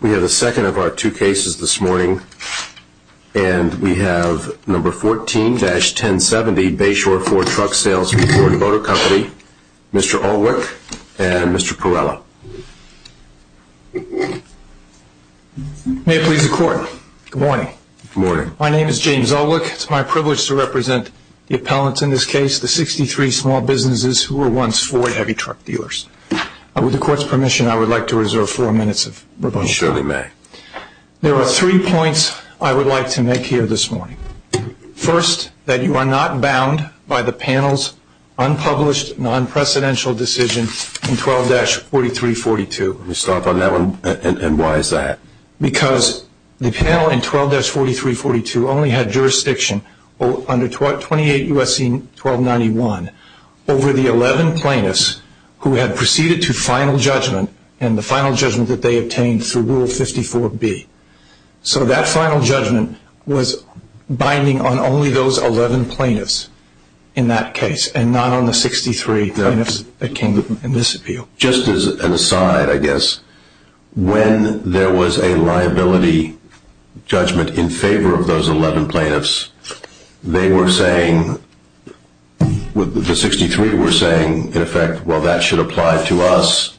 We have a second of our two cases this morning and we have number 14-1070 Bayshore Ford Truck Sales v. Ford Motor Company. Mr. Alwick and Mr. Perella. May it please the court. Good morning. Good morning. My name is James Alwick. It's my privilege to represent the appellants in this case, the 63 small businesses who were once Ford heavy truck dealers. With the court's permission I would like to make three points of rebuttal. You surely may. There are three points I would like to make here this morning. First, that you are not bound by the panel's unpublished non-precedential decision in 12-4342. Let me start on that one and why is that? Because the panel in 12-4342 only had jurisdiction under 28 U.S.C. 1291 over the 11 plaintiffs who had proceeded to final judgment that they obtained through Rule 54B. So that final judgment was binding on only those 11 plaintiffs in that case and not on the 63 plaintiffs that came in this appeal. Just as an aside, I guess, when there was a liability judgment in favor of those 11 plaintiffs, they were saying, the 63 were saying in effect, well that should apply to us.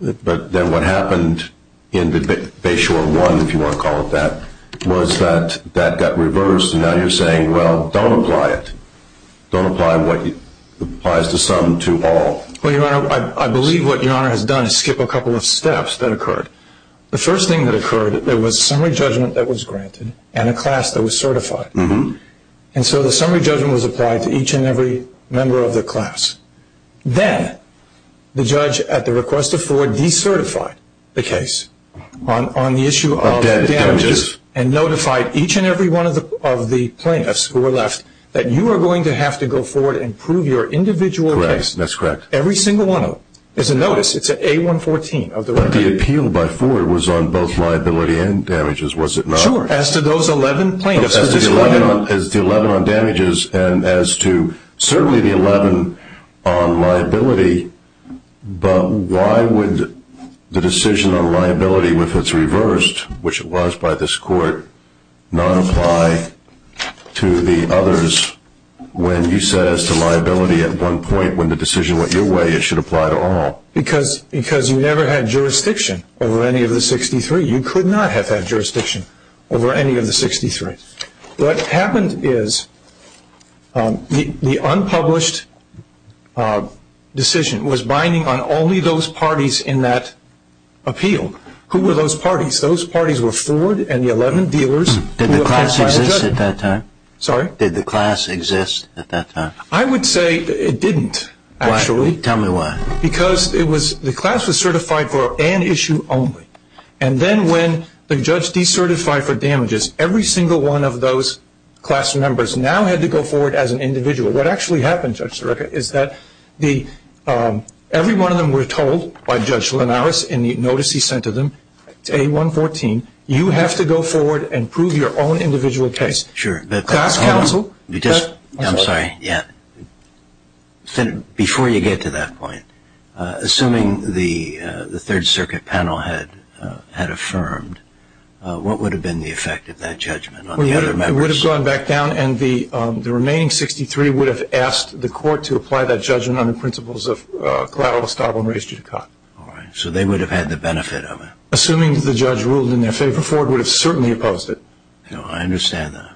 But then what happened in Bayshore 1, if you want to call it that, was that that got reversed and now you're saying, well, don't apply it. Don't apply what applies to some to all. Well, Your Honor, I believe what Your Honor has done is skip a couple of steps that occurred. The first thing that occurred, there was summary judgment that was granted and a class that was certified. And so the summary judgment was applied to each and every member of the class. Then the judge, at the request of Ford, decertified the case on the issue of damages and notified each and every one of the plaintiffs who were left that you are going to have to go forward and prove your individual case. That's correct. Every single one of them. It's a notice. It's an A-114. But the appeal by Ford was on both liability and damages, was it not? Sure. As to those 11 plaintiffs. As to the 11 on damages and as to certainly the 11 on liability, but why would the decision on liability, if it's reversed, which it was by this court, not apply to the others when you said as to liability at one point when the decision went your way, it should apply to all. Because you never had jurisdiction over any of the 63. You could not have had jurisdiction over any of the 63. What happened is the unpublished decision was binding on only those parties in that appeal. Who were those parties? Those parties were Ford and the 11 dealers. Did the class exist at that time? Sorry? Did the class exist at that time? I would say it didn't, actually. Why? Tell me why. Because the class was certified for an issue only. And then when the judge decertified for damages, every single one of those class members now had to go forward as an individual. What actually happened, Judge Sirica, is that every one of them were told by Judge Linares in the notice he sent to them, it's A-114, you have to go forward and prove your own individual case. Sure. I'm sorry. Yeah. Before you get to that point, assuming the Third Circuit panel had affirmed, what would have been the effect of that judgment on the other members? It would have gone back down and the remaining 63 would have asked the court to apply that judgment on the principles of collateral establishment. So they would have had the benefit of it. Assuming the judge ruled in their favor, Ford would have certainly opposed it. I understand that.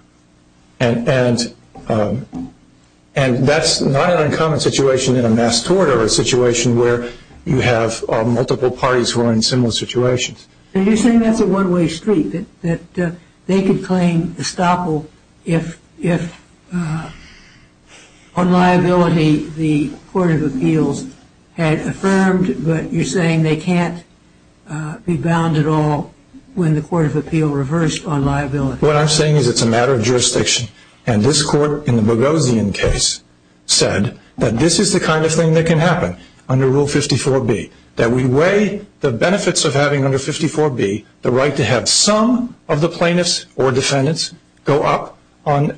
And that's not an uncommon situation in a mass tort or a situation where you have multiple parties who are in similar situations. You're saying that's a one-way street, that they could claim estoppel if on liability the Court of Appeals had affirmed, but you're saying they can't be bound at all when the Court of Appeals reversed on liability. What I'm saying is it's a matter of jurisdiction. And this court in the Boghossian case said that this is the kind of thing that can happen under Rule 54B, that we weigh the benefits of having under 54B the right to have some of the plaintiffs or defendants go up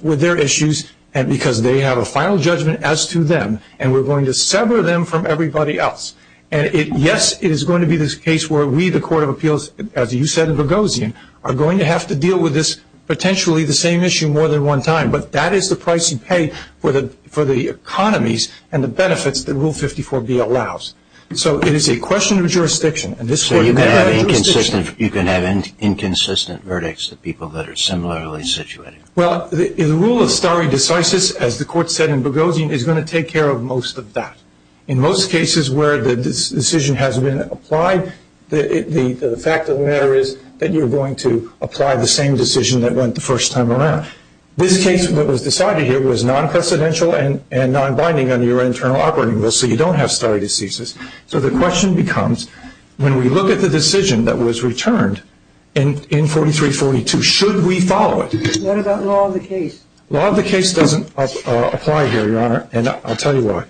with their issues because they have a final judgment as to them and we're going to sever them from everybody else. And yes, it is going to be this case where we, the Court of Appeals, as you said in Boghossian, are going to have to deal with this potentially the same issue more than one time, but that is the price you pay for the economies and the benefits that Rule 54B allows. So it is a question of jurisdiction, and this court may have jurisdiction. So you can have inconsistent verdicts of people that are similarly situated. Well, the rule of stare decisis, as the court said in Boghossian, is going to take care of most of that. In most cases where the decision has been applied, the fact of the matter is that you're going to apply the same decision that went the first time around. This case that was decided here was non-precedential and non-binding under your internal operating rule, so you don't have stare decisis. So the question becomes, when we look at the decision that was returned in 43-42, should we follow it? What about law of the case? Law of the case doesn't apply here, Your Honor, and I'll tell you why.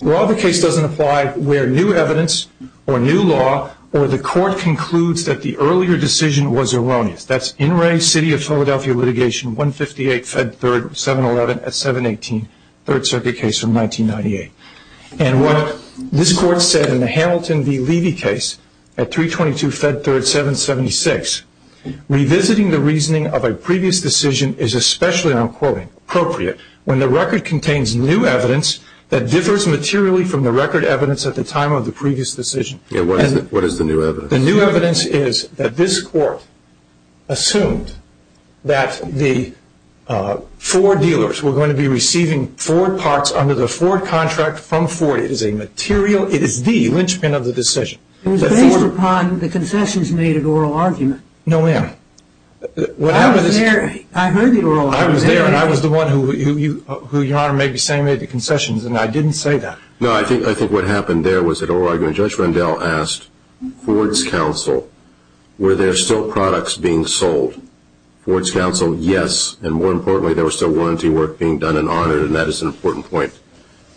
Law of the case doesn't apply where new evidence or new law or the court concludes that the earlier decision was erroneous. That's in range city of Philadelphia litigation, 158 Fed 3rd, 711 at 718, Third Circuit case from 1998. And what this court said in the Hamilton v. Levy case at 322 Fed 3rd, 776, revisiting the reasoning of a previous decision is especially, and I'm quoting, appropriate when the record contains new evidence that differs materially from the record evidence at the time of the previous decision. What is the new evidence? The new evidence is that this court assumed that the Ford dealers were going to be receiving Ford parts under the Ford contract from Ford. It is a material, it is the linchpin of the decision. It was based upon the concessions made at oral argument. No, ma'am. I was there. I heard the oral argument. I was there, and I was the one who Your Honor may be saying made the concessions, and I didn't say that. No, I think what happened there was at oral argument Judge Rendell asked Ford's counsel, were there still products being sold? Ford's counsel, yes, and more importantly, there was still warranty work being done and honored, and that is an important point.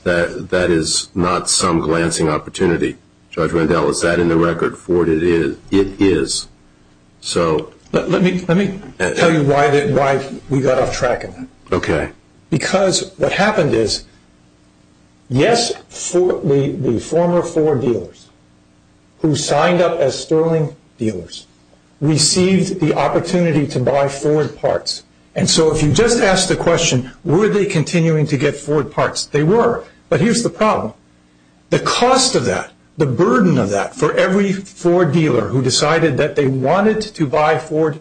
That is not some glancing opportunity. Judge Rendell, is that in the record? Ford, it is. Let me tell you why we got off track on that. Okay. Because what happened is, yes, the former Ford dealers who signed up as Sterling dealers received the opportunity to buy Ford parts, and so if you just ask the question, were they continuing to get Ford parts? They were, but here's the problem. The cost of that, the burden of that for every Ford dealer who decided that they wanted to buy Ford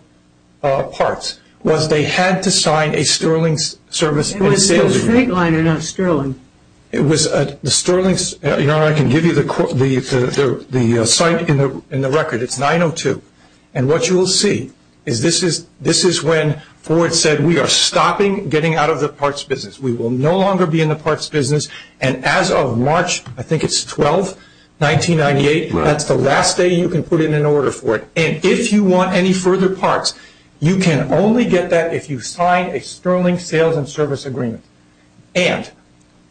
parts was they had to sign a Sterling service and a sales agreement. It was a straight line and not Sterling. It was a Sterling. Your Honor, I can give you the site in the record. It's 902, and what you will see is this is when Ford said, we are stopping getting out of the parts business. We will no longer be in the parts business, and as of March, I think it's 12, 1998, that's the last day you can put in an order for it. And if you want any further parts, you can only get that if you sign a Sterling sales and service agreement. And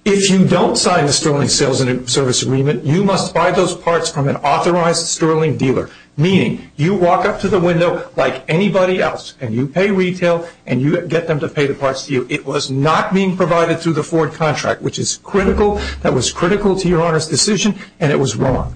if you don't sign a Sterling sales and service agreement, you must buy those parts from an authorized Sterling dealer, meaning you walk up to the window like anybody else and you pay retail and you get them to pay the parts to you. It was not being provided through the Ford contract, which is critical. That was critical to Your Honor's decision, and it was wrong.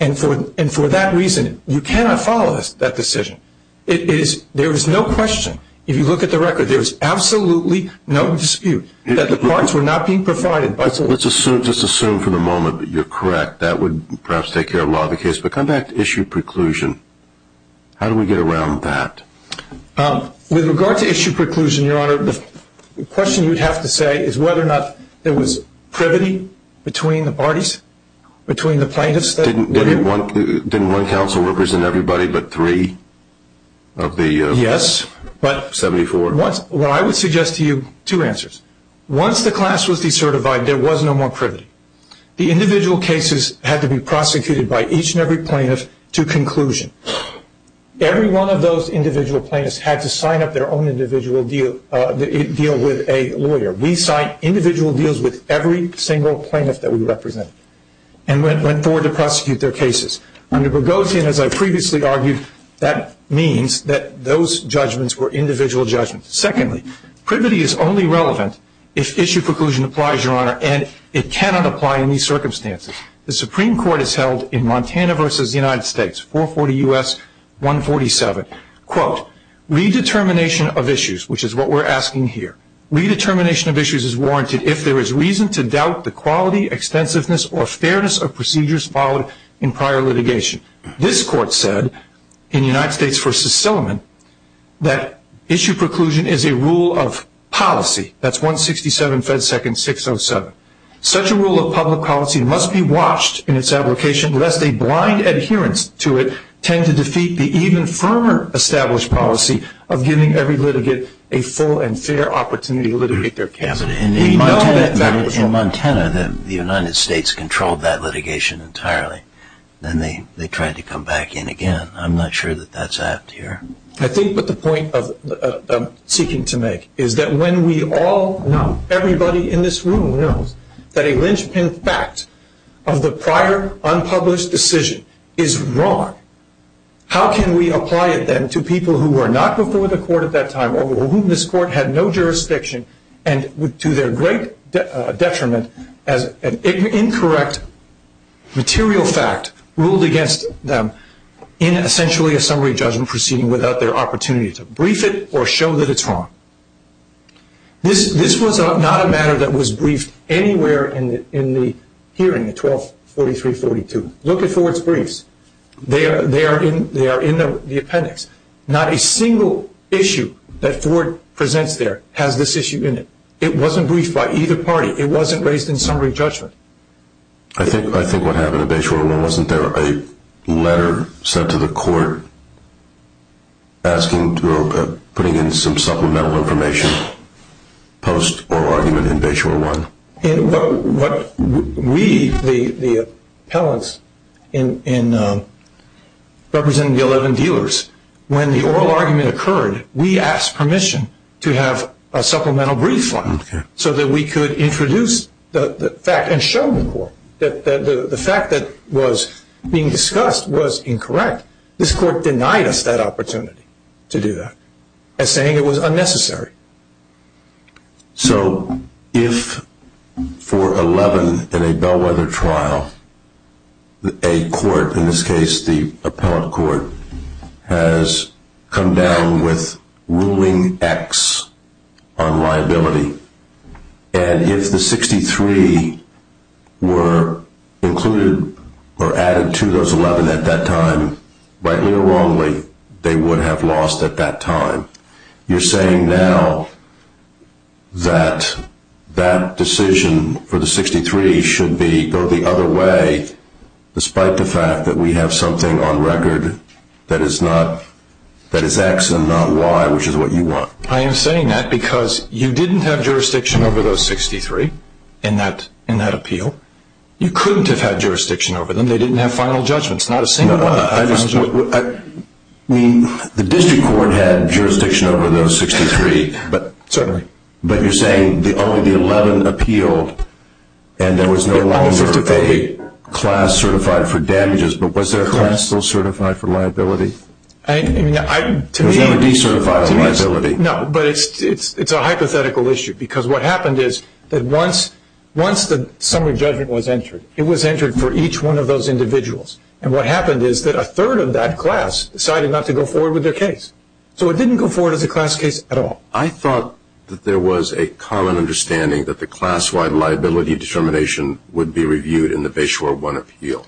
And for that reason, you cannot follow that decision. There is no question. If you look at the record, there is absolutely no dispute that the parts were not being provided. Let's just assume for the moment that you're correct. That would perhaps take care of a lot of the case, but come back to issue preclusion. How do we get around that? With regard to issue preclusion, Your Honor, the question you'd have to say is whether or not there was privity between the parties, between the plaintiffs. Didn't one counsel represent everybody but three of the 74? Yes, but what I would suggest to you, two answers. Once the class was decertified, there was no more privity. The individual cases had to be prosecuted by each and every plaintiff to conclusion. Every one of those individual plaintiffs had to sign up their own individual deal with a lawyer. We signed individual deals with every single plaintiff that we represented and went forward to prosecute their cases. Under Boghossian, as I previously argued, that means that those judgments were individual judgments. Secondly, privity is only relevant if issue preclusion applies, Your Honor, and it cannot apply in these circumstances. The Supreme Court has held in Montana v. United States, 440 U.S., 147, quote, redetermination of issues, which is what we're asking here. Redetermination of issues is warranted if there is reason to doubt the quality, extensiveness, or fairness of procedures followed in prior litigation. This court said in United States v. Silliman that issue preclusion is a rule of policy. That's 167 Fed Second 607. Such a rule of public policy must be watched in its application lest a blind adherence to it tend to defeat the even firmer established policy of giving every litigant a full and fair opportunity to litigate their case. In Montana, the United States controlled that litigation entirely. Then they tried to come back in again. I'm not sure that that's apt here. I think what the point I'm seeking to make is that when we all know, everybody in this room knows, that a linchpin fact of the prior unpublished decision is wrong, how can we apply it then to people who were not before the court at that time or whom this court had no jurisdiction and to their great detriment as an incorrect material fact ruled against them in essentially a summary judgment proceeding without their opportunity to brief it or show that it's wrong? This was not a matter that was briefed anywhere in the hearing at 1243-42. Look at Ford's briefs. They are in the appendix. Not a single issue that Ford presents there has this issue in it. It wasn't briefed by either party. It wasn't raised in summary judgment. I think what happened at Bayshore, wasn't there a letter sent to the court asking to put in some supplemental information post oral argument in Bayshore 1? We, the appellants representing the 11 dealers, when the oral argument occurred, we asked permission to have a supplemental brief filed so that we could introduce the fact and show the court that the fact that was being discussed was incorrect. This court denied us that opportunity to do that as saying it was unnecessary. So if for 11 in a Bellwether trial, a court, in this case the appellate court, has come down with ruling X on liability, and if the 63 were included or added to those 11 at that time, rightly or wrongly, they would have lost at that time. You're saying now that that decision for the 63 should go the other way, despite the fact that we have something on record that is X and not Y, which is what you want. I am saying that because you didn't have jurisdiction over those 63 in that appeal. You couldn't have had jurisdiction over them. They didn't have final judgments, not a single one. The district court had jurisdiction over those 63, but you're saying only the 11 appealed and there was no longer a class certified for damages, but was there a class still certified for liability? It was never decertified as liability. No, but it's a hypothetical issue because what happened is that once the summary judgment was entered, it was entered for each one of those individuals, and what happened is that a third of that class decided not to go forward with their case. So it didn't go forward as a class case at all. I thought that there was a common understanding that the class Y liability determination would be reviewed in the Bayshore One appeal.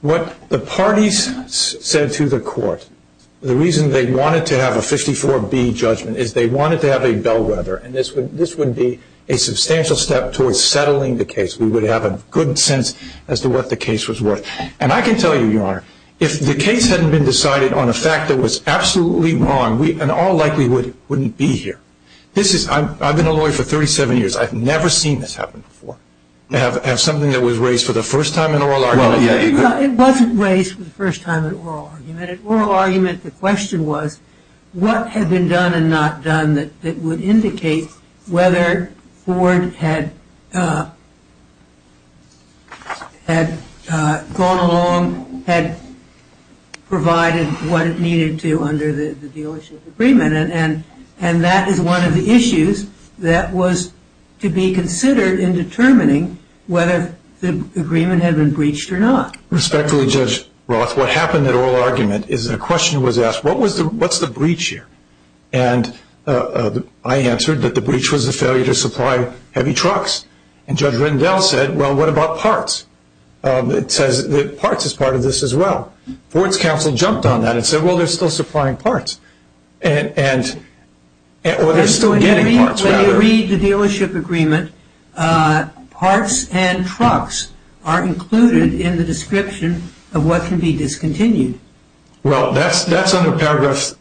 What the parties said to the court, the reason they wanted to have a 54B judgment, is they wanted to have a bellwether, and this would be a substantial step towards settling the case. We would have a good sense as to what the case was worth. And I can tell you, Your Honor, if the case hadn't been decided on a fact that was absolutely wrong, we in all likelihood wouldn't be here. I've been a lawyer for 37 years. I've never seen this happen before, to have something that was raised for the first time in oral argument. It wasn't raised for the first time in oral argument. In oral argument, the question was what had been done and not done that would indicate whether Ford had gone along, had provided what it needed to under the dealership agreement, and that is one of the issues that was to be considered in determining whether the agreement had been breached or not. Respectfully, Judge Roth, what happened at oral argument is a question was asked, what's the breach here? And I answered that the breach was the failure to supply heavy trucks. And Judge Rendell said, well, what about parts? It says that parts is part of this as well. Ford's counsel jumped on that and said, well, they're still supplying parts. Or they're still getting parts. When you read the dealership agreement, parts and trucks are included in the description of what can be discontinued. Well, that's under Paragraph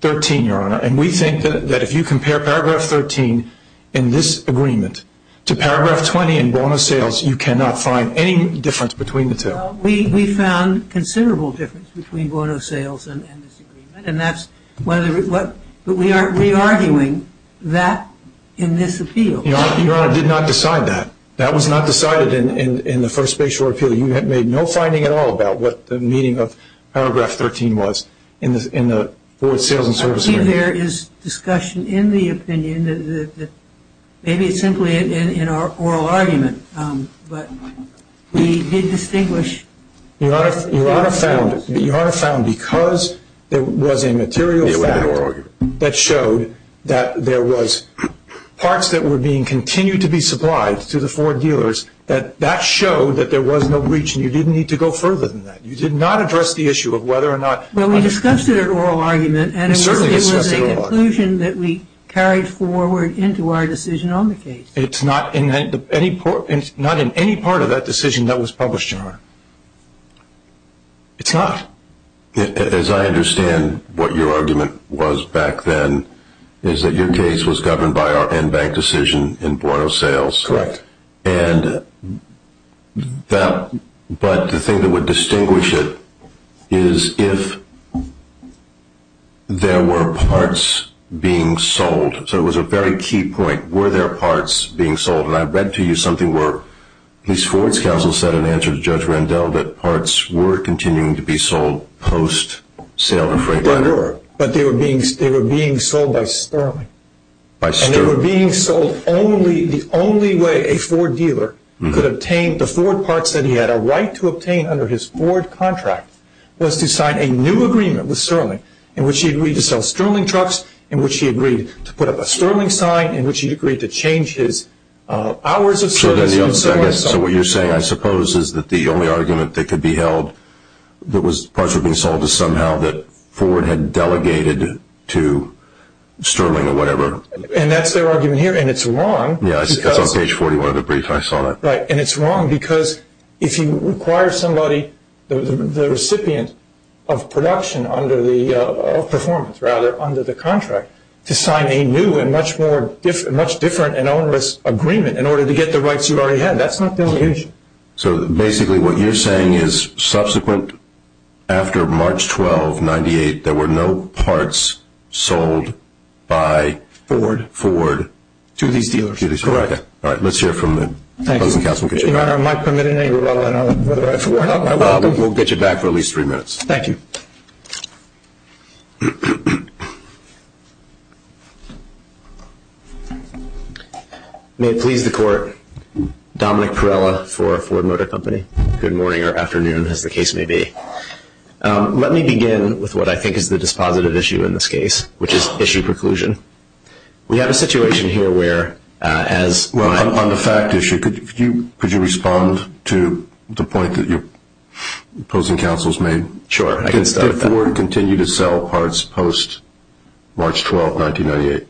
13, Your Honor, and we think that if you compare Paragraph 13 in this agreement to Paragraph 20 in Bono Sales, you cannot find any difference between the two. We found considerable difference between Bono Sales and this agreement, but we are re-arguing that in this appeal. Your Honor, I did not decide that. That was not decided in the first spatial appeal. You have made no finding at all about what the meaning of Paragraph 13 was in the Ford Sales and Service Agreement. I believe there is discussion in the opinion that maybe it's simply in our oral argument, but we did distinguish. Your Honor, you are found because there was a material fact that showed that there was parts that were being continued to be supplied to the Ford dealers that that showed that there was no breach and you didn't need to go further than that. You did not address the issue of whether or not. Well, we discussed it at oral argument. We certainly discussed it at oral argument. And it was an inclusion that we carried forward into our decision on the case. It's not in any part of that decision that was published, Your Honor. It's not. As I understand what your argument was back then, is that your case was governed by our in-bank decision in Bono Sales. Correct. But the thing that would distinguish it is if there were parts being sold. So it was a very key point. Were there parts being sold? And I read to you something where these Ford's counsel said in answer to Judge Randell that parts were continuing to be sold post-sale to Franklin. They were. But they were being sold by Sterling. And they were being sold only the only way a Ford dealer could obtain the Ford parts that he had a right to obtain under his Ford contract was to sign a new agreement with Sterling in which he agreed to sell Sterling trucks, in which he agreed to put up a Sterling sign, in which he agreed to change his hours of service. So what you're saying, I suppose, is that the only argument that could be held that parts were being sold is somehow that Ford had delegated to Sterling or whatever. And that's their argument here. And it's wrong. That's on page 41 of the brief. I saw that. Right. And it's wrong because if you require somebody, the recipient of production under the performance, rather, under the contract, to sign a new and much different and onerous agreement in order to get the rights you already had, that's not delegation. So basically what you're saying is subsequent after March 12, 1998, there were no parts sold by Ford to these dealers. Okay. All right. Let's hear from the cousin counsel. Your Honor, am I permitted any rebuttal on whether I forgot my welcome? We'll get you back for at least three minutes. Thank you. May it please the Court, Dominic Pirella for Ford Motor Company. Good morning or afternoon, as the case may be. Let me begin with what I think is the dispositive issue in this case, which is issue preclusion. We have a situation here where, as my ---- On the fact issue, could you respond to the point that your cousin counsel has made? Sure. I can start with that. Did Ford continue to sell parts post March 12, 1998?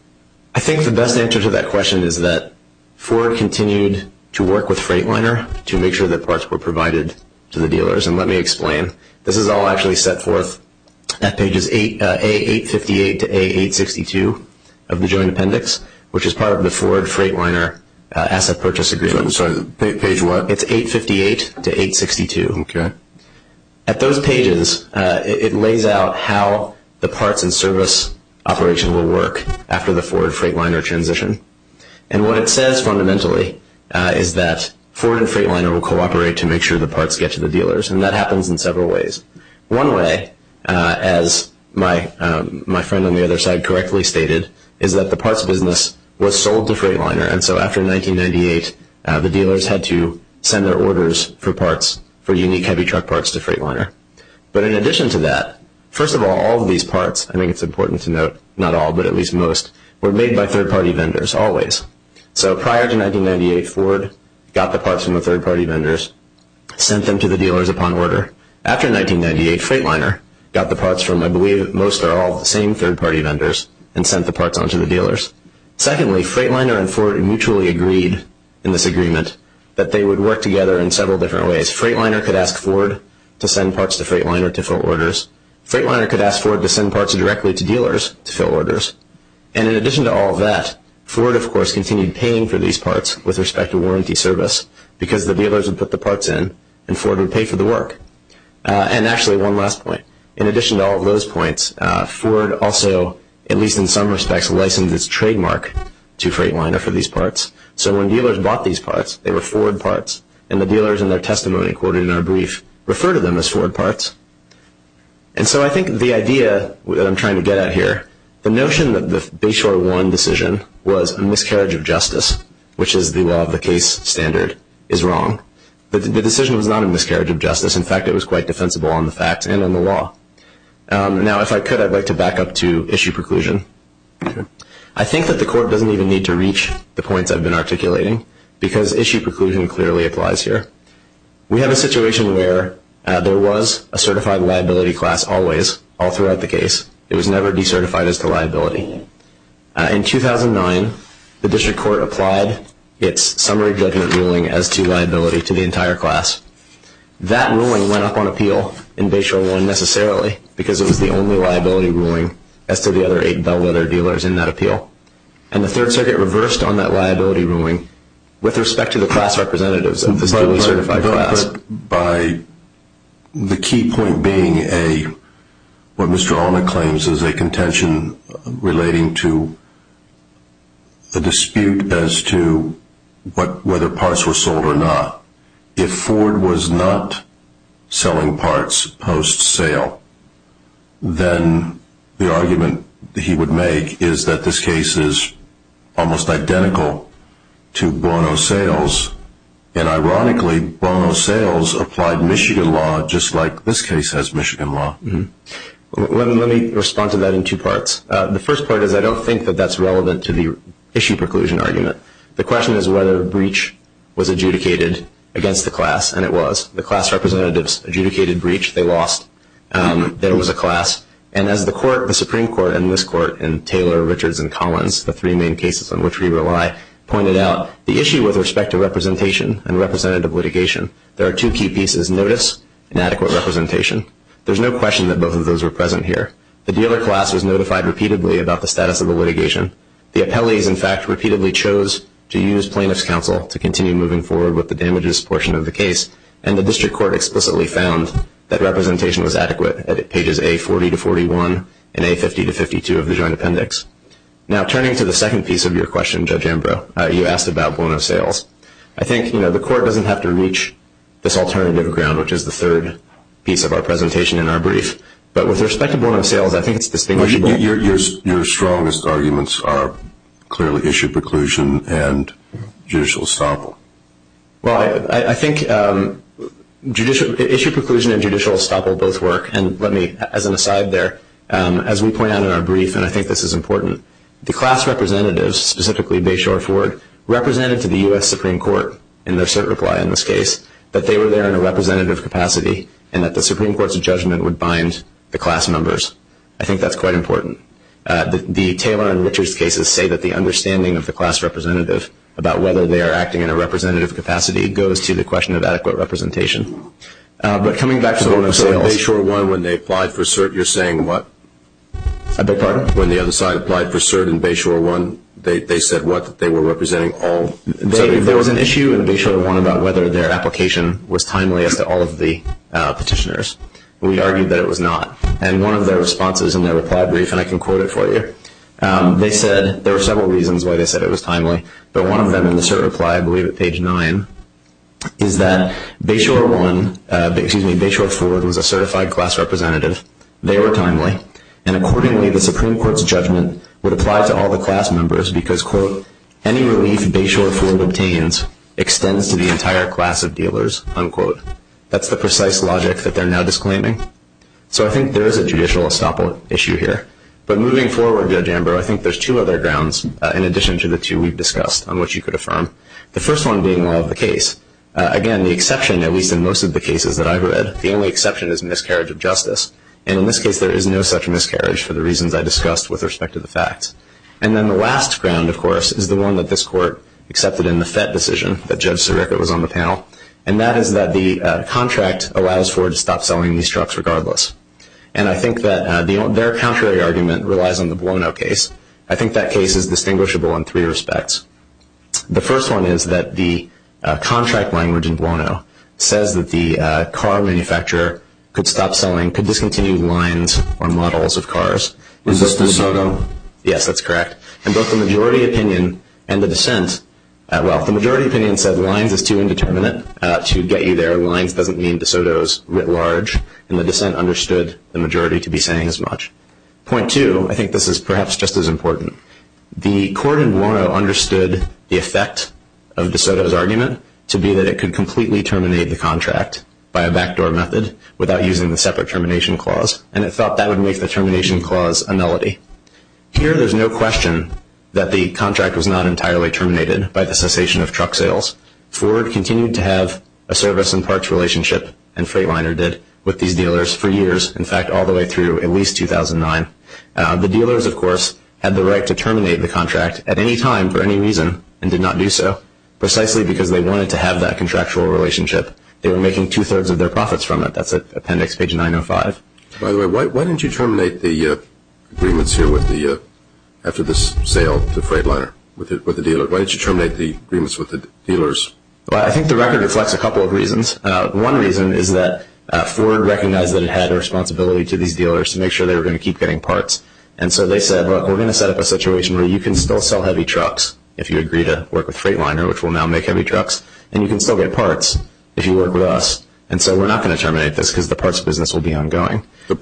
I think the best answer to that question is that Ford continued to work with Freightliner to make sure that parts were provided to the dealers. And let me explain. This is all actually set forth at pages A858 to A862 of the Joint Appendix, which is part of the Ford Freightliner Asset Purchase Agreement. I'm sorry. Page what? It's 858 to 862. Okay. At those pages, it lays out how the parts and service operation will work after the Ford Freightliner transition. And what it says fundamentally is that Ford and Freightliner will cooperate to make sure the parts get to the dealers. And that happens in several ways. One way, as my friend on the other side correctly stated, is that the parts business was sold to Freightliner. And so after 1998, the dealers had to send their orders for parts for unique heavy truck parts to Freightliner. But in addition to that, first of all, all of these parts ---- I think it's important to note not all, but at least most ---- were made by third-party vendors always. So prior to 1998, Ford got the parts from the third-party vendors, sent them to the dealers upon order. After 1998, Freightliner got the parts from, I believe, most or all of the same third-party vendors, and sent the parts on to the dealers. Secondly, Freightliner and Ford mutually agreed in this agreement that they would work together in several different ways. Freightliner could ask Ford to send parts to Freightliner to fill orders. Freightliner could ask Ford to send parts directly to dealers to fill orders. And in addition to all of that, Ford, of course, continued paying for these parts with respect to warranty service because the dealers would put the parts in and Ford would pay for the work. And actually, one last point. In addition to all of those points, Ford also, at least in some respects, licensed its trademark to Freightliner for these parts. So when dealers bought these parts, they were Ford parts, and the dealers in their testimony quoted in our brief referred to them as Ford parts. And so I think the idea that I'm trying to get at here, the notion that the Bayshore One decision was a miscarriage of justice, which is the law of the case standard, is wrong. The decision was not a miscarriage of justice. In fact, it was quite defensible on the facts and on the law. Now, if I could, I'd like to back up to issue preclusion. I think that the Court doesn't even need to reach the points I've been articulating because issue preclusion clearly applies here. We have a situation where there was a certified liability class always, all throughout the case. It was never decertified as to liability. In 2009, the District Court applied its summary judgment ruling as to liability to the entire class. That ruling went up on appeal in Bayshore One necessarily because it was the only liability ruling as to the other eight bellwether dealers in that appeal. And the Third Circuit reversed on that liability ruling with respect to the class representatives of the certified class. By the key point being a, what Mr. Allna claims, is a contention relating to the dispute as to whether parts were sold or not. If Ford was not selling parts post-sale, then the argument he would make is that this case is almost identical to Bono sales. And ironically, Bono sales applied Michigan law just like this case has Michigan law. Let me respond to that in two parts. The first part is I don't think that that's relevant to the issue preclusion argument. The question is whether a breach was adjudicated against the class, and it was. The class representatives adjudicated breach. They lost. There was a class. And as the court, the Supreme Court, and this court, and Taylor, Richards, and Collins, the three main cases on which we rely, pointed out the issue with respect to representation and representative litigation. There are two key pieces, notice and adequate representation. There's no question that both of those are present here. The dealer class was notified repeatedly about the status of the litigation. The appellees, in fact, repeatedly chose to use plaintiff's counsel to continue moving forward with the damages portion of the case. And the district court explicitly found that representation was adequate at pages A40 to 41 and A50 to 52 of the joint appendix. Now turning to the second piece of your question, Judge Ambrose, you asked about Bono sales. I think the court doesn't have to reach this alternative ground, which is the third piece of our presentation in our brief. But with respect to Bono sales, I think it's distinguishable. Your strongest arguments are clearly issue preclusion and judicial estoppel. Well, I think issue preclusion and judicial estoppel both work. And let me, as an aside there, as we point out in our brief, and I think this is important, the class representatives, specifically Bashore Ford, represented to the U.S. Supreme Court in their cert reply in this case that they were there in a representative capacity and that the Supreme Court's judgment would bind the class members. I think that's quite important. The Taylor and Richards cases say that the understanding of the class representative about whether they are acting in a representative capacity goes to the question of adequate representation. But coming back to the Bono sales. So in Bashore 1, when they applied for cert, you're saying what? I beg your pardon? When the other side applied for cert in Bashore 1, they said what? That they were representing all? There was an issue in Bashore 1 about whether their application was timely as to all of the petitioners. We argued that it was not. And one of their responses in their reply brief, and I can quote it for you, they said there were several reasons why they said it was timely. But one of them in the cert reply, I believe at page 9, is that Bashore 1, excuse me, Bashore Ford was a certified class representative. They were timely. And accordingly, the Supreme Court's judgment would apply to all the class members because, quote, any relief Bashore Ford obtains extends to the entire class of dealers, unquote. That's the precise logic that they're now disclaiming. So I think there is a judicial estoppel issue here. But moving forward, Judge Amber, I think there's two other grounds, in addition to the two we've discussed, on which you could affirm. The first one being law of the case. Again, the exception, at least in most of the cases that I've read, the only exception is miscarriage of justice. And in this case, there is no such miscarriage for the reasons I discussed with respect to the facts. And then the last ground, of course, is the one that this court accepted in the FET decision, that Judge Sirica was on the panel, and that is that the contract allows Ford to stop selling these trucks regardless. And I think that their contrary argument relies on the Buono case. I think that case is distinguishable in three respects. The first one is that the contract language in Buono says that the car manufacturer could stop selling, could discontinue lines or models of cars. Is this De Soto? Yes, that's correct. And both the majority opinion and the dissent, well, the majority opinion said lines is too indeterminate to get you there. Lines doesn't mean De Soto's writ large, and the dissent understood the majority to be saying as much. Point two, I think this is perhaps just as important. The court in Buono understood the effect of De Soto's argument to be that it could completely terminate the contract by a backdoor method without using the separate termination clause, and it thought that would make the termination clause a melody. Here, there's no question that the contract was not entirely terminated by the cessation of truck sales. Ford continued to have a service and parts relationship, and Freightliner did, with these dealers for years, in fact, all the way through at least 2009. The dealers, of course, had the right to terminate the contract at any time for any reason and did not do so. Precisely because they wanted to have that contractual relationship, they were making two-thirds of their profits from it. That's at appendix page 905. By the way, why didn't you terminate the agreements here after this sale to Freightliner with the dealer? Why didn't you terminate the agreements with the dealers? I think the record reflects a couple of reasons. One reason is that Ford recognized that it had a responsibility to these dealers to make sure they were going to keep getting parts, and so they said, look, we're going to set up a situation where you can still sell heavy trucks if you agree to work with Freightliner, which will now make heavy trucks, and you can still get parts if you work with us, and so we're not going to terminate this because the parts business will be ongoing. You're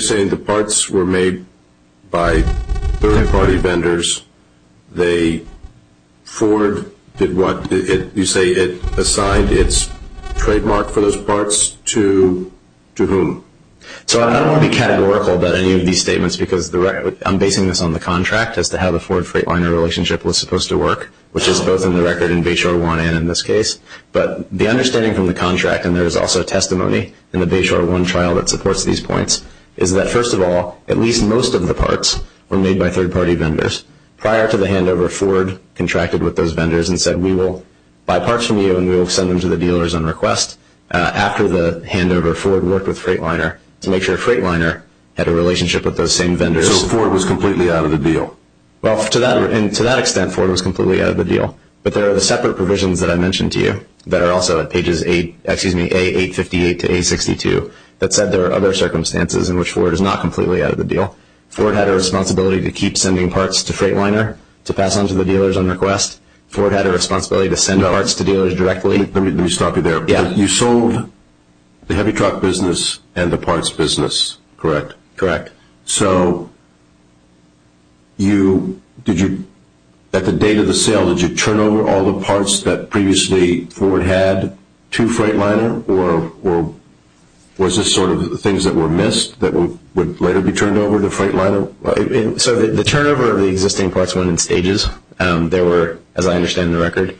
saying the parts were made by third-party vendors. Ford did what? You say it assigned its trademark for those parts to whom? I don't want to be categorical about any of these statements because I'm basing this on the contract as to how the Ford-Freightliner relationship was supposed to work, which is both in the record in Bayshore 1 and in this case, but the understanding from the contract, and there is also testimony in the Bayshore 1 trial that supports these points, is that, first of all, at least most of the parts were made by third-party vendors. Prior to the handover, Ford contracted with those vendors and said, we will buy parts from you and we will send them to the dealers on request. After the handover, Ford worked with Freightliner to make sure Freightliner had a relationship with those same vendors. So Ford was completely out of the deal? Well, to that extent, Ford was completely out of the deal, but there are separate provisions that I mentioned to you that are also at pages 858 to 862 that said there are other circumstances in which Ford is not completely out of the deal. Ford had a responsibility to keep sending parts to Freightliner to pass on to the dealers on request. Ford had a responsibility to send parts to dealers directly. Let me stop you there. You sold the heavy truck business and the parts business, correct? Correct. So at the date of the sale, did you turn over all the parts that previously Ford had to Freightliner, or was this sort of the things that were missed that would later be turned over to Freightliner? So the turnover of the existing parts went in stages. There were, as I understand the record,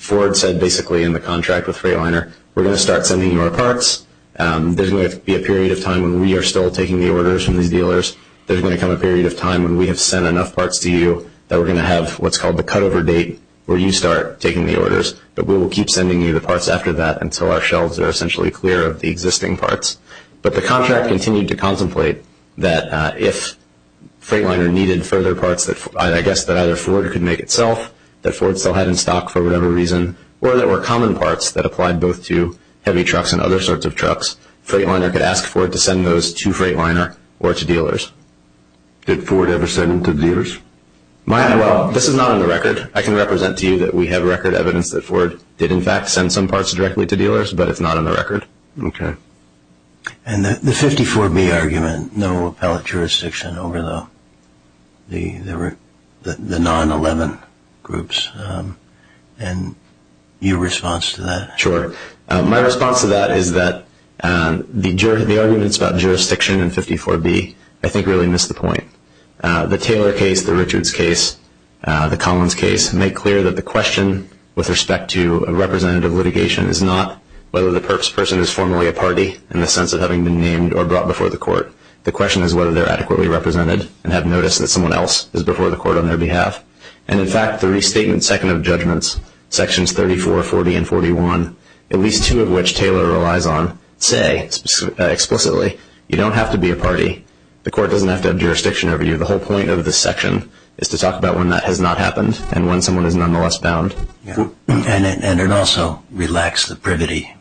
Ford said basically in the contract with Freightliner, There's going to be a period of time when we are still taking the orders from these dealers. There's going to come a period of time when we have sent enough parts to you that we're going to have what's called the cutover date where you start taking the orders, but we will keep sending you the parts after that until our shelves are essentially clear of the existing parts. But the contract continued to contemplate that if Freightliner needed further parts, I guess that either Ford could make itself, that Ford still had in stock for whatever reason, or there were common parts that applied both to heavy trucks and other sorts of trucks. Freightliner could ask Ford to send those to Freightliner or to dealers. Did Ford ever send them to dealers? Well, this is not on the record. I can represent to you that we have record evidence that Ford did in fact send some parts directly to dealers, but it's not on the record. Okay. And the 54B argument, no appellate jurisdiction over the non-11 groups. And your response to that? Sure. My response to that is that the arguments about jurisdiction in 54B I think really miss the point. The Taylor case, the Richards case, the Collins case make clear that the question with respect to representative litigation is not whether the person is formally a party in the sense of having been named or brought before the court. The question is whether they're adequately represented and have noticed that someone else is before the court on their behalf. And, in fact, the restatement second of judgments, sections 34, 40, and 41, at least two of which Taylor relies on, say explicitly, you don't have to be a party. The court doesn't have to have jurisdiction over you. The whole point of this section is to talk about when that has not happened and when someone is nonetheless bound. And it also relaxed the privity.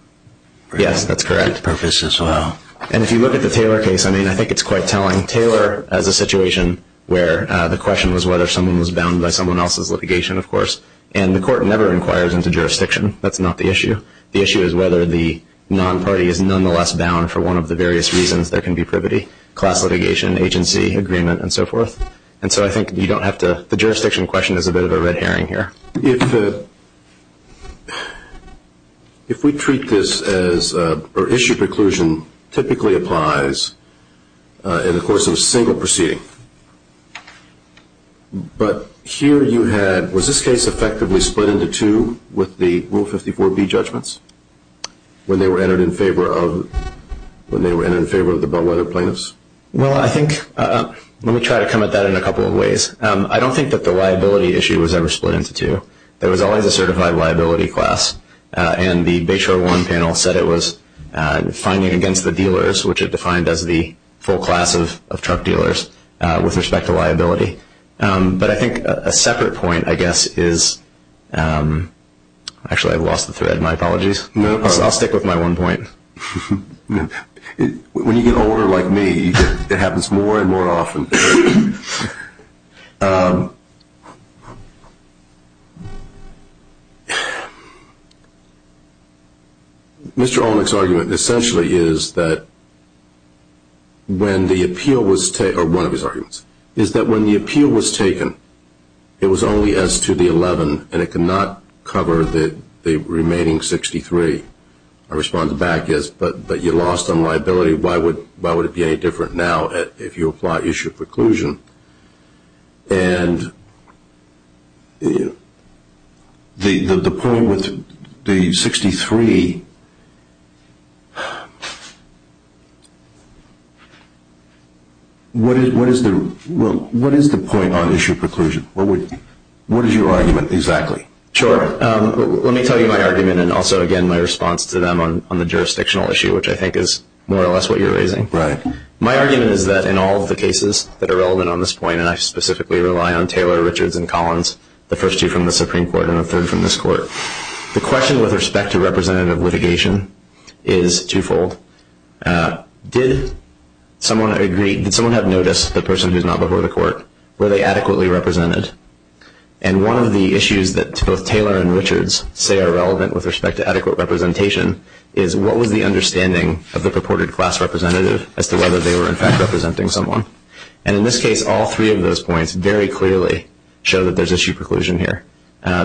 Yes, that's correct. Purpose as well. And if you look at the Taylor case, I mean, I think it's quite telling. Taylor has a situation where the question was whether someone was bound by someone else's litigation, of course. And the court never inquires into jurisdiction. That's not the issue. The issue is whether the non-party is nonetheless bound for one of the various reasons there can be privity, class litigation, agency, agreement, and so forth. And so I think you don't have to – the jurisdiction question is a bit of a red herring here. If we treat this as – or issue preclusion typically applies in the course of a single proceeding. But here you had – was this case effectively split into two with the Rule 54B judgments when they were entered in favor of the Bellwether plaintiffs? Well, I think – let me try to come at that in a couple of ways. I don't think that the liability issue was ever split into two. There was always a certified liability class. And the Bayshore One panel said it was finding against the dealers, which it defined as the full class of truck dealers with respect to liability. But I think a separate point, I guess, is – actually, I lost the thread. My apologies. I'll stick with my one point. When you get older like me, it happens more and more often. Mr. Olnick's argument essentially is that when the appeal was – or one of his arguments – is that when the appeal was taken, it was only as to the 11 and it could not cover the remaining 63. My response back is, but you lost on liability. Why would it be any different now if you apply issue preclusion? And the point with the 63 – what is the point on issue preclusion? What is your argument exactly? Sure. Let me tell you my argument and also, again, my response to them on the jurisdictional issue, which I think is more or less what you're raising. Right. My argument is that in all of the cases that are relevant on this point, and I specifically rely on Taylor, Richards, and Collins, the first two from the Supreme Court and the third from this court, the question with respect to representative litigation is twofold. Did someone agree – did someone have noticed the person who's not before the court? Were they adequately represented? And one of the issues that both Taylor and Richards say are relevant with respect to adequate representation is what was the understanding of the purported class representative as to whether they were, in fact, representing someone? And in this case, all three of those points very clearly show that there's issue preclusion here.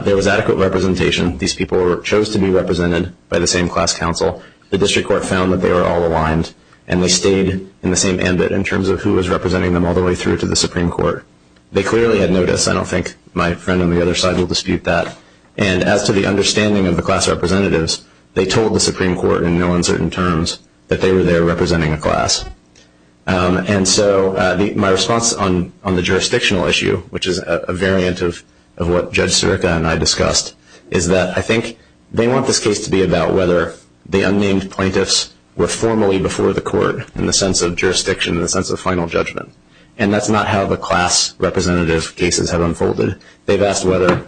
There was adequate representation. These people chose to be represented by the same class counsel. The district court found that they were all aligned and they stayed in the same ambit in terms of who was representing them all the way through to the Supreme Court. They clearly had noticed. I don't think my friend on the other side will dispute that. And as to the understanding of the class representatives, they told the Supreme Court in no uncertain terms that they were there representing a class. And so my response on the jurisdictional issue, which is a variant of what Judge Sirica and I discussed, is that I think they want this case to be about whether the unnamed plaintiffs were formally before the court in the sense of jurisdiction, in the sense of final judgment. And that's not how the class representative cases have unfolded. They've asked whether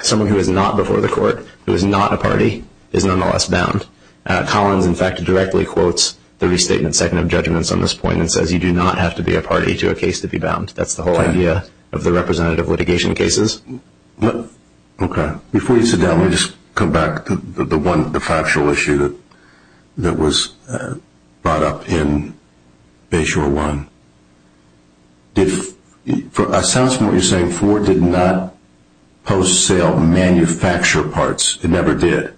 someone who is not before the court, who is not a party, is nonetheless bound. Collins, in fact, directly quotes the restatement second of judgments on this point and says you do not have to be a party to a case to be bound. That's the whole idea of the representative litigation cases. Okay. Before you sit down, let me just come back to the factual issue that was brought up in Bayshore 1. It sounds to me like you're saying Ford did not post-sale manufacture parts. It never did.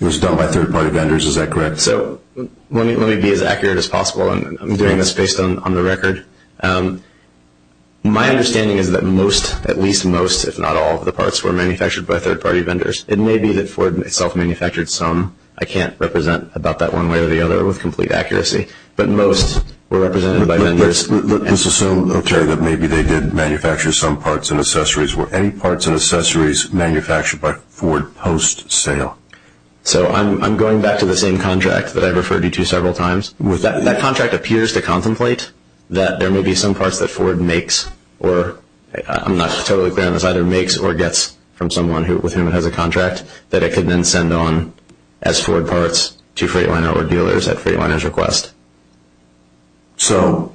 It was done by third-party vendors. Is that correct? So let me be as accurate as possible. I'm doing this based on the record. My understanding is that most, at least most, if not all of the parts were manufactured by third-party vendors. It may be that Ford itself manufactured some. I can't represent about that one way or the other with complete accuracy. But most were represented by vendors. Let's assume, Terry, that maybe they did manufacture some parts and accessories. Were any parts and accessories manufactured by Ford post-sale? So I'm going back to the same contract that I referred you to several times. That contract appears to contemplate that there may be some parts that Ford makes or I'm not totally clear on this, either makes or gets from someone with whom it has a contract that it could then send on as Ford parts to Freightliner or dealers at Freightliner's request. So,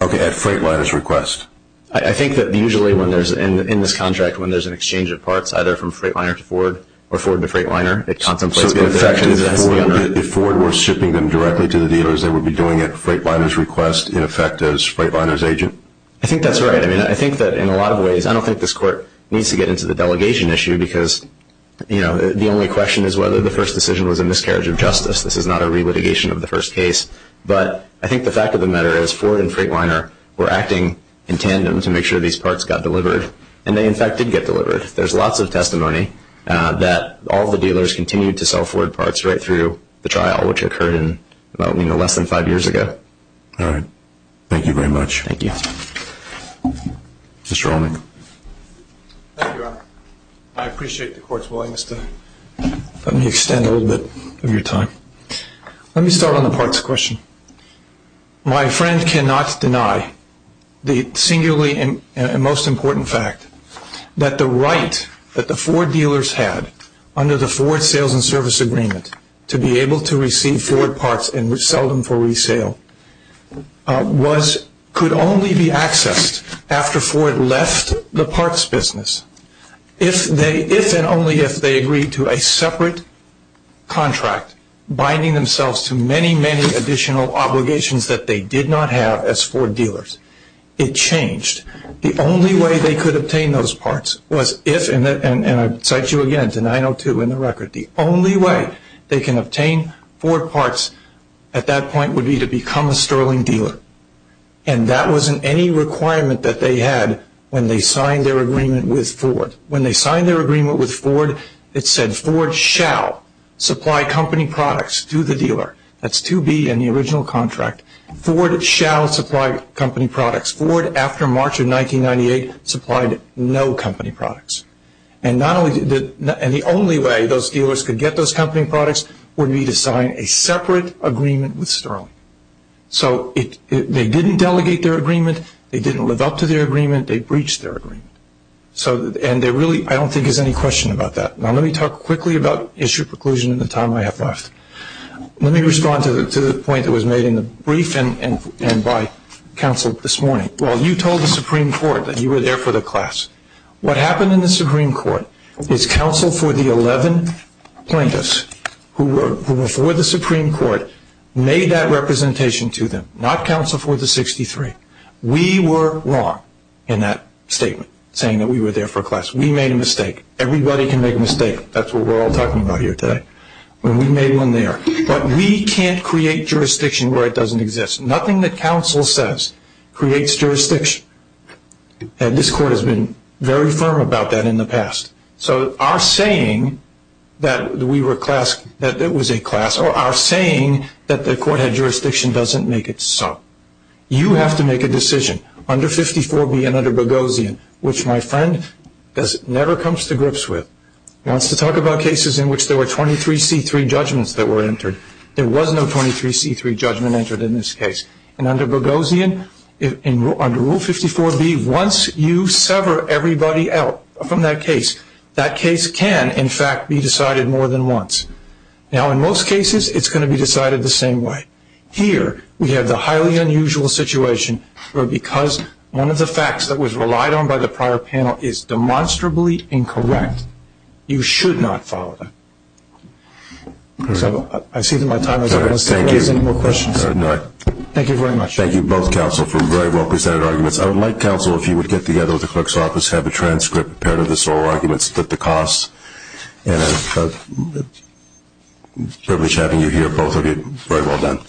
okay, at Freightliner's request. I think that usually when there's, in this contract, when there's an exchange of parts, either from Freightliner to Ford or Ford to Freightliner, it contemplates both actions. So if Ford were shipping them directly to the dealers, they would be doing it at Freightliner's request, in effect, as Freightliner's agent? I think that's right. I mean, I think that in a lot of ways, I don't think this court needs to get into the delegation issue because, you know, the only question is whether the first decision was a miscarriage of justice. This is not a re-litigation of the first case. But I think the fact of the matter is Ford and Freightliner were acting in tandem There's lots of testimony that all the dealers continued to sell Ford parts right through the trial, which occurred in, you know, less than five years ago. All right. Thank you very much. Thank you. Mr. Allnick. Thank you, Your Honor. I appreciate the court's willingness to let me extend a little bit of your time. Let me start on the parts question. My friend cannot deny the singularly and most important fact that the right that the Ford dealers had under the Ford sales and service agreement to be able to receive Ford parts and sell them for resale could only be accessed after Ford left the parts business if and only if they agreed to a separate contract binding themselves to many, many additional obligations that they did not have as Ford dealers. It changed. The only way they could obtain those parts was if, and I cite you again to 902 in the record, the only way they can obtain Ford parts at that point would be to become a sterling dealer. And that wasn't any requirement that they had when they signed their agreement with Ford. When they signed their agreement with Ford, it said Ford shall supply company products to the dealer. That's 2B in the original contract. Ford shall supply company products. Ford, after March of 1998, supplied no company products. And the only way those dealers could get those company products would be to sign a separate agreement with Sterling. So they didn't delegate their agreement. They didn't live up to their agreement. They breached their agreement. And there really, I don't think, is any question about that. Now let me talk quickly about issue preclusion and the time I have left. Let me respond to the point that was made in the brief and by counsel this morning. Well, you told the Supreme Court that you were there for the class. What happened in the Supreme Court is counsel for the 11 plaintiffs who were before the Supreme Court made that representation to them, not counsel for the 63. We were wrong in that statement, saying that we were there for class. We made a mistake. Everybody can make a mistake. That's what we're all talking about here today. We made one there. But we can't create jurisdiction where it doesn't exist. Nothing that counsel says creates jurisdiction. And this court has been very firm about that in the past. So our saying that we were a class, that it was a class, or our saying that the court had jurisdiction doesn't make it so. You have to make a decision under 54B and under Boghossian, which my friend never comes to grips with. He wants to talk about cases in which there were 23C3 judgments that were entered. There was no 23C3 judgment entered in this case. And under Boghossian, under Rule 54B, once you sever everybody out from that case, that case can, in fact, be decided more than once. Now in most cases, it's going to be decided the same way. Here we have the highly unusual situation where because one of the facts that was relied on by the prior panel is demonstrably incorrect, you should not follow that. So I see that my time is up. I don't know if there are any more questions. Thank you very much. Thank you, both counsel, for very well presented arguments. I would like, counsel, if you would get together with the clerk's office, have a transcript, a pair of the sole arguments that the costs, and I'm privileged having you here. Both of you, very well done.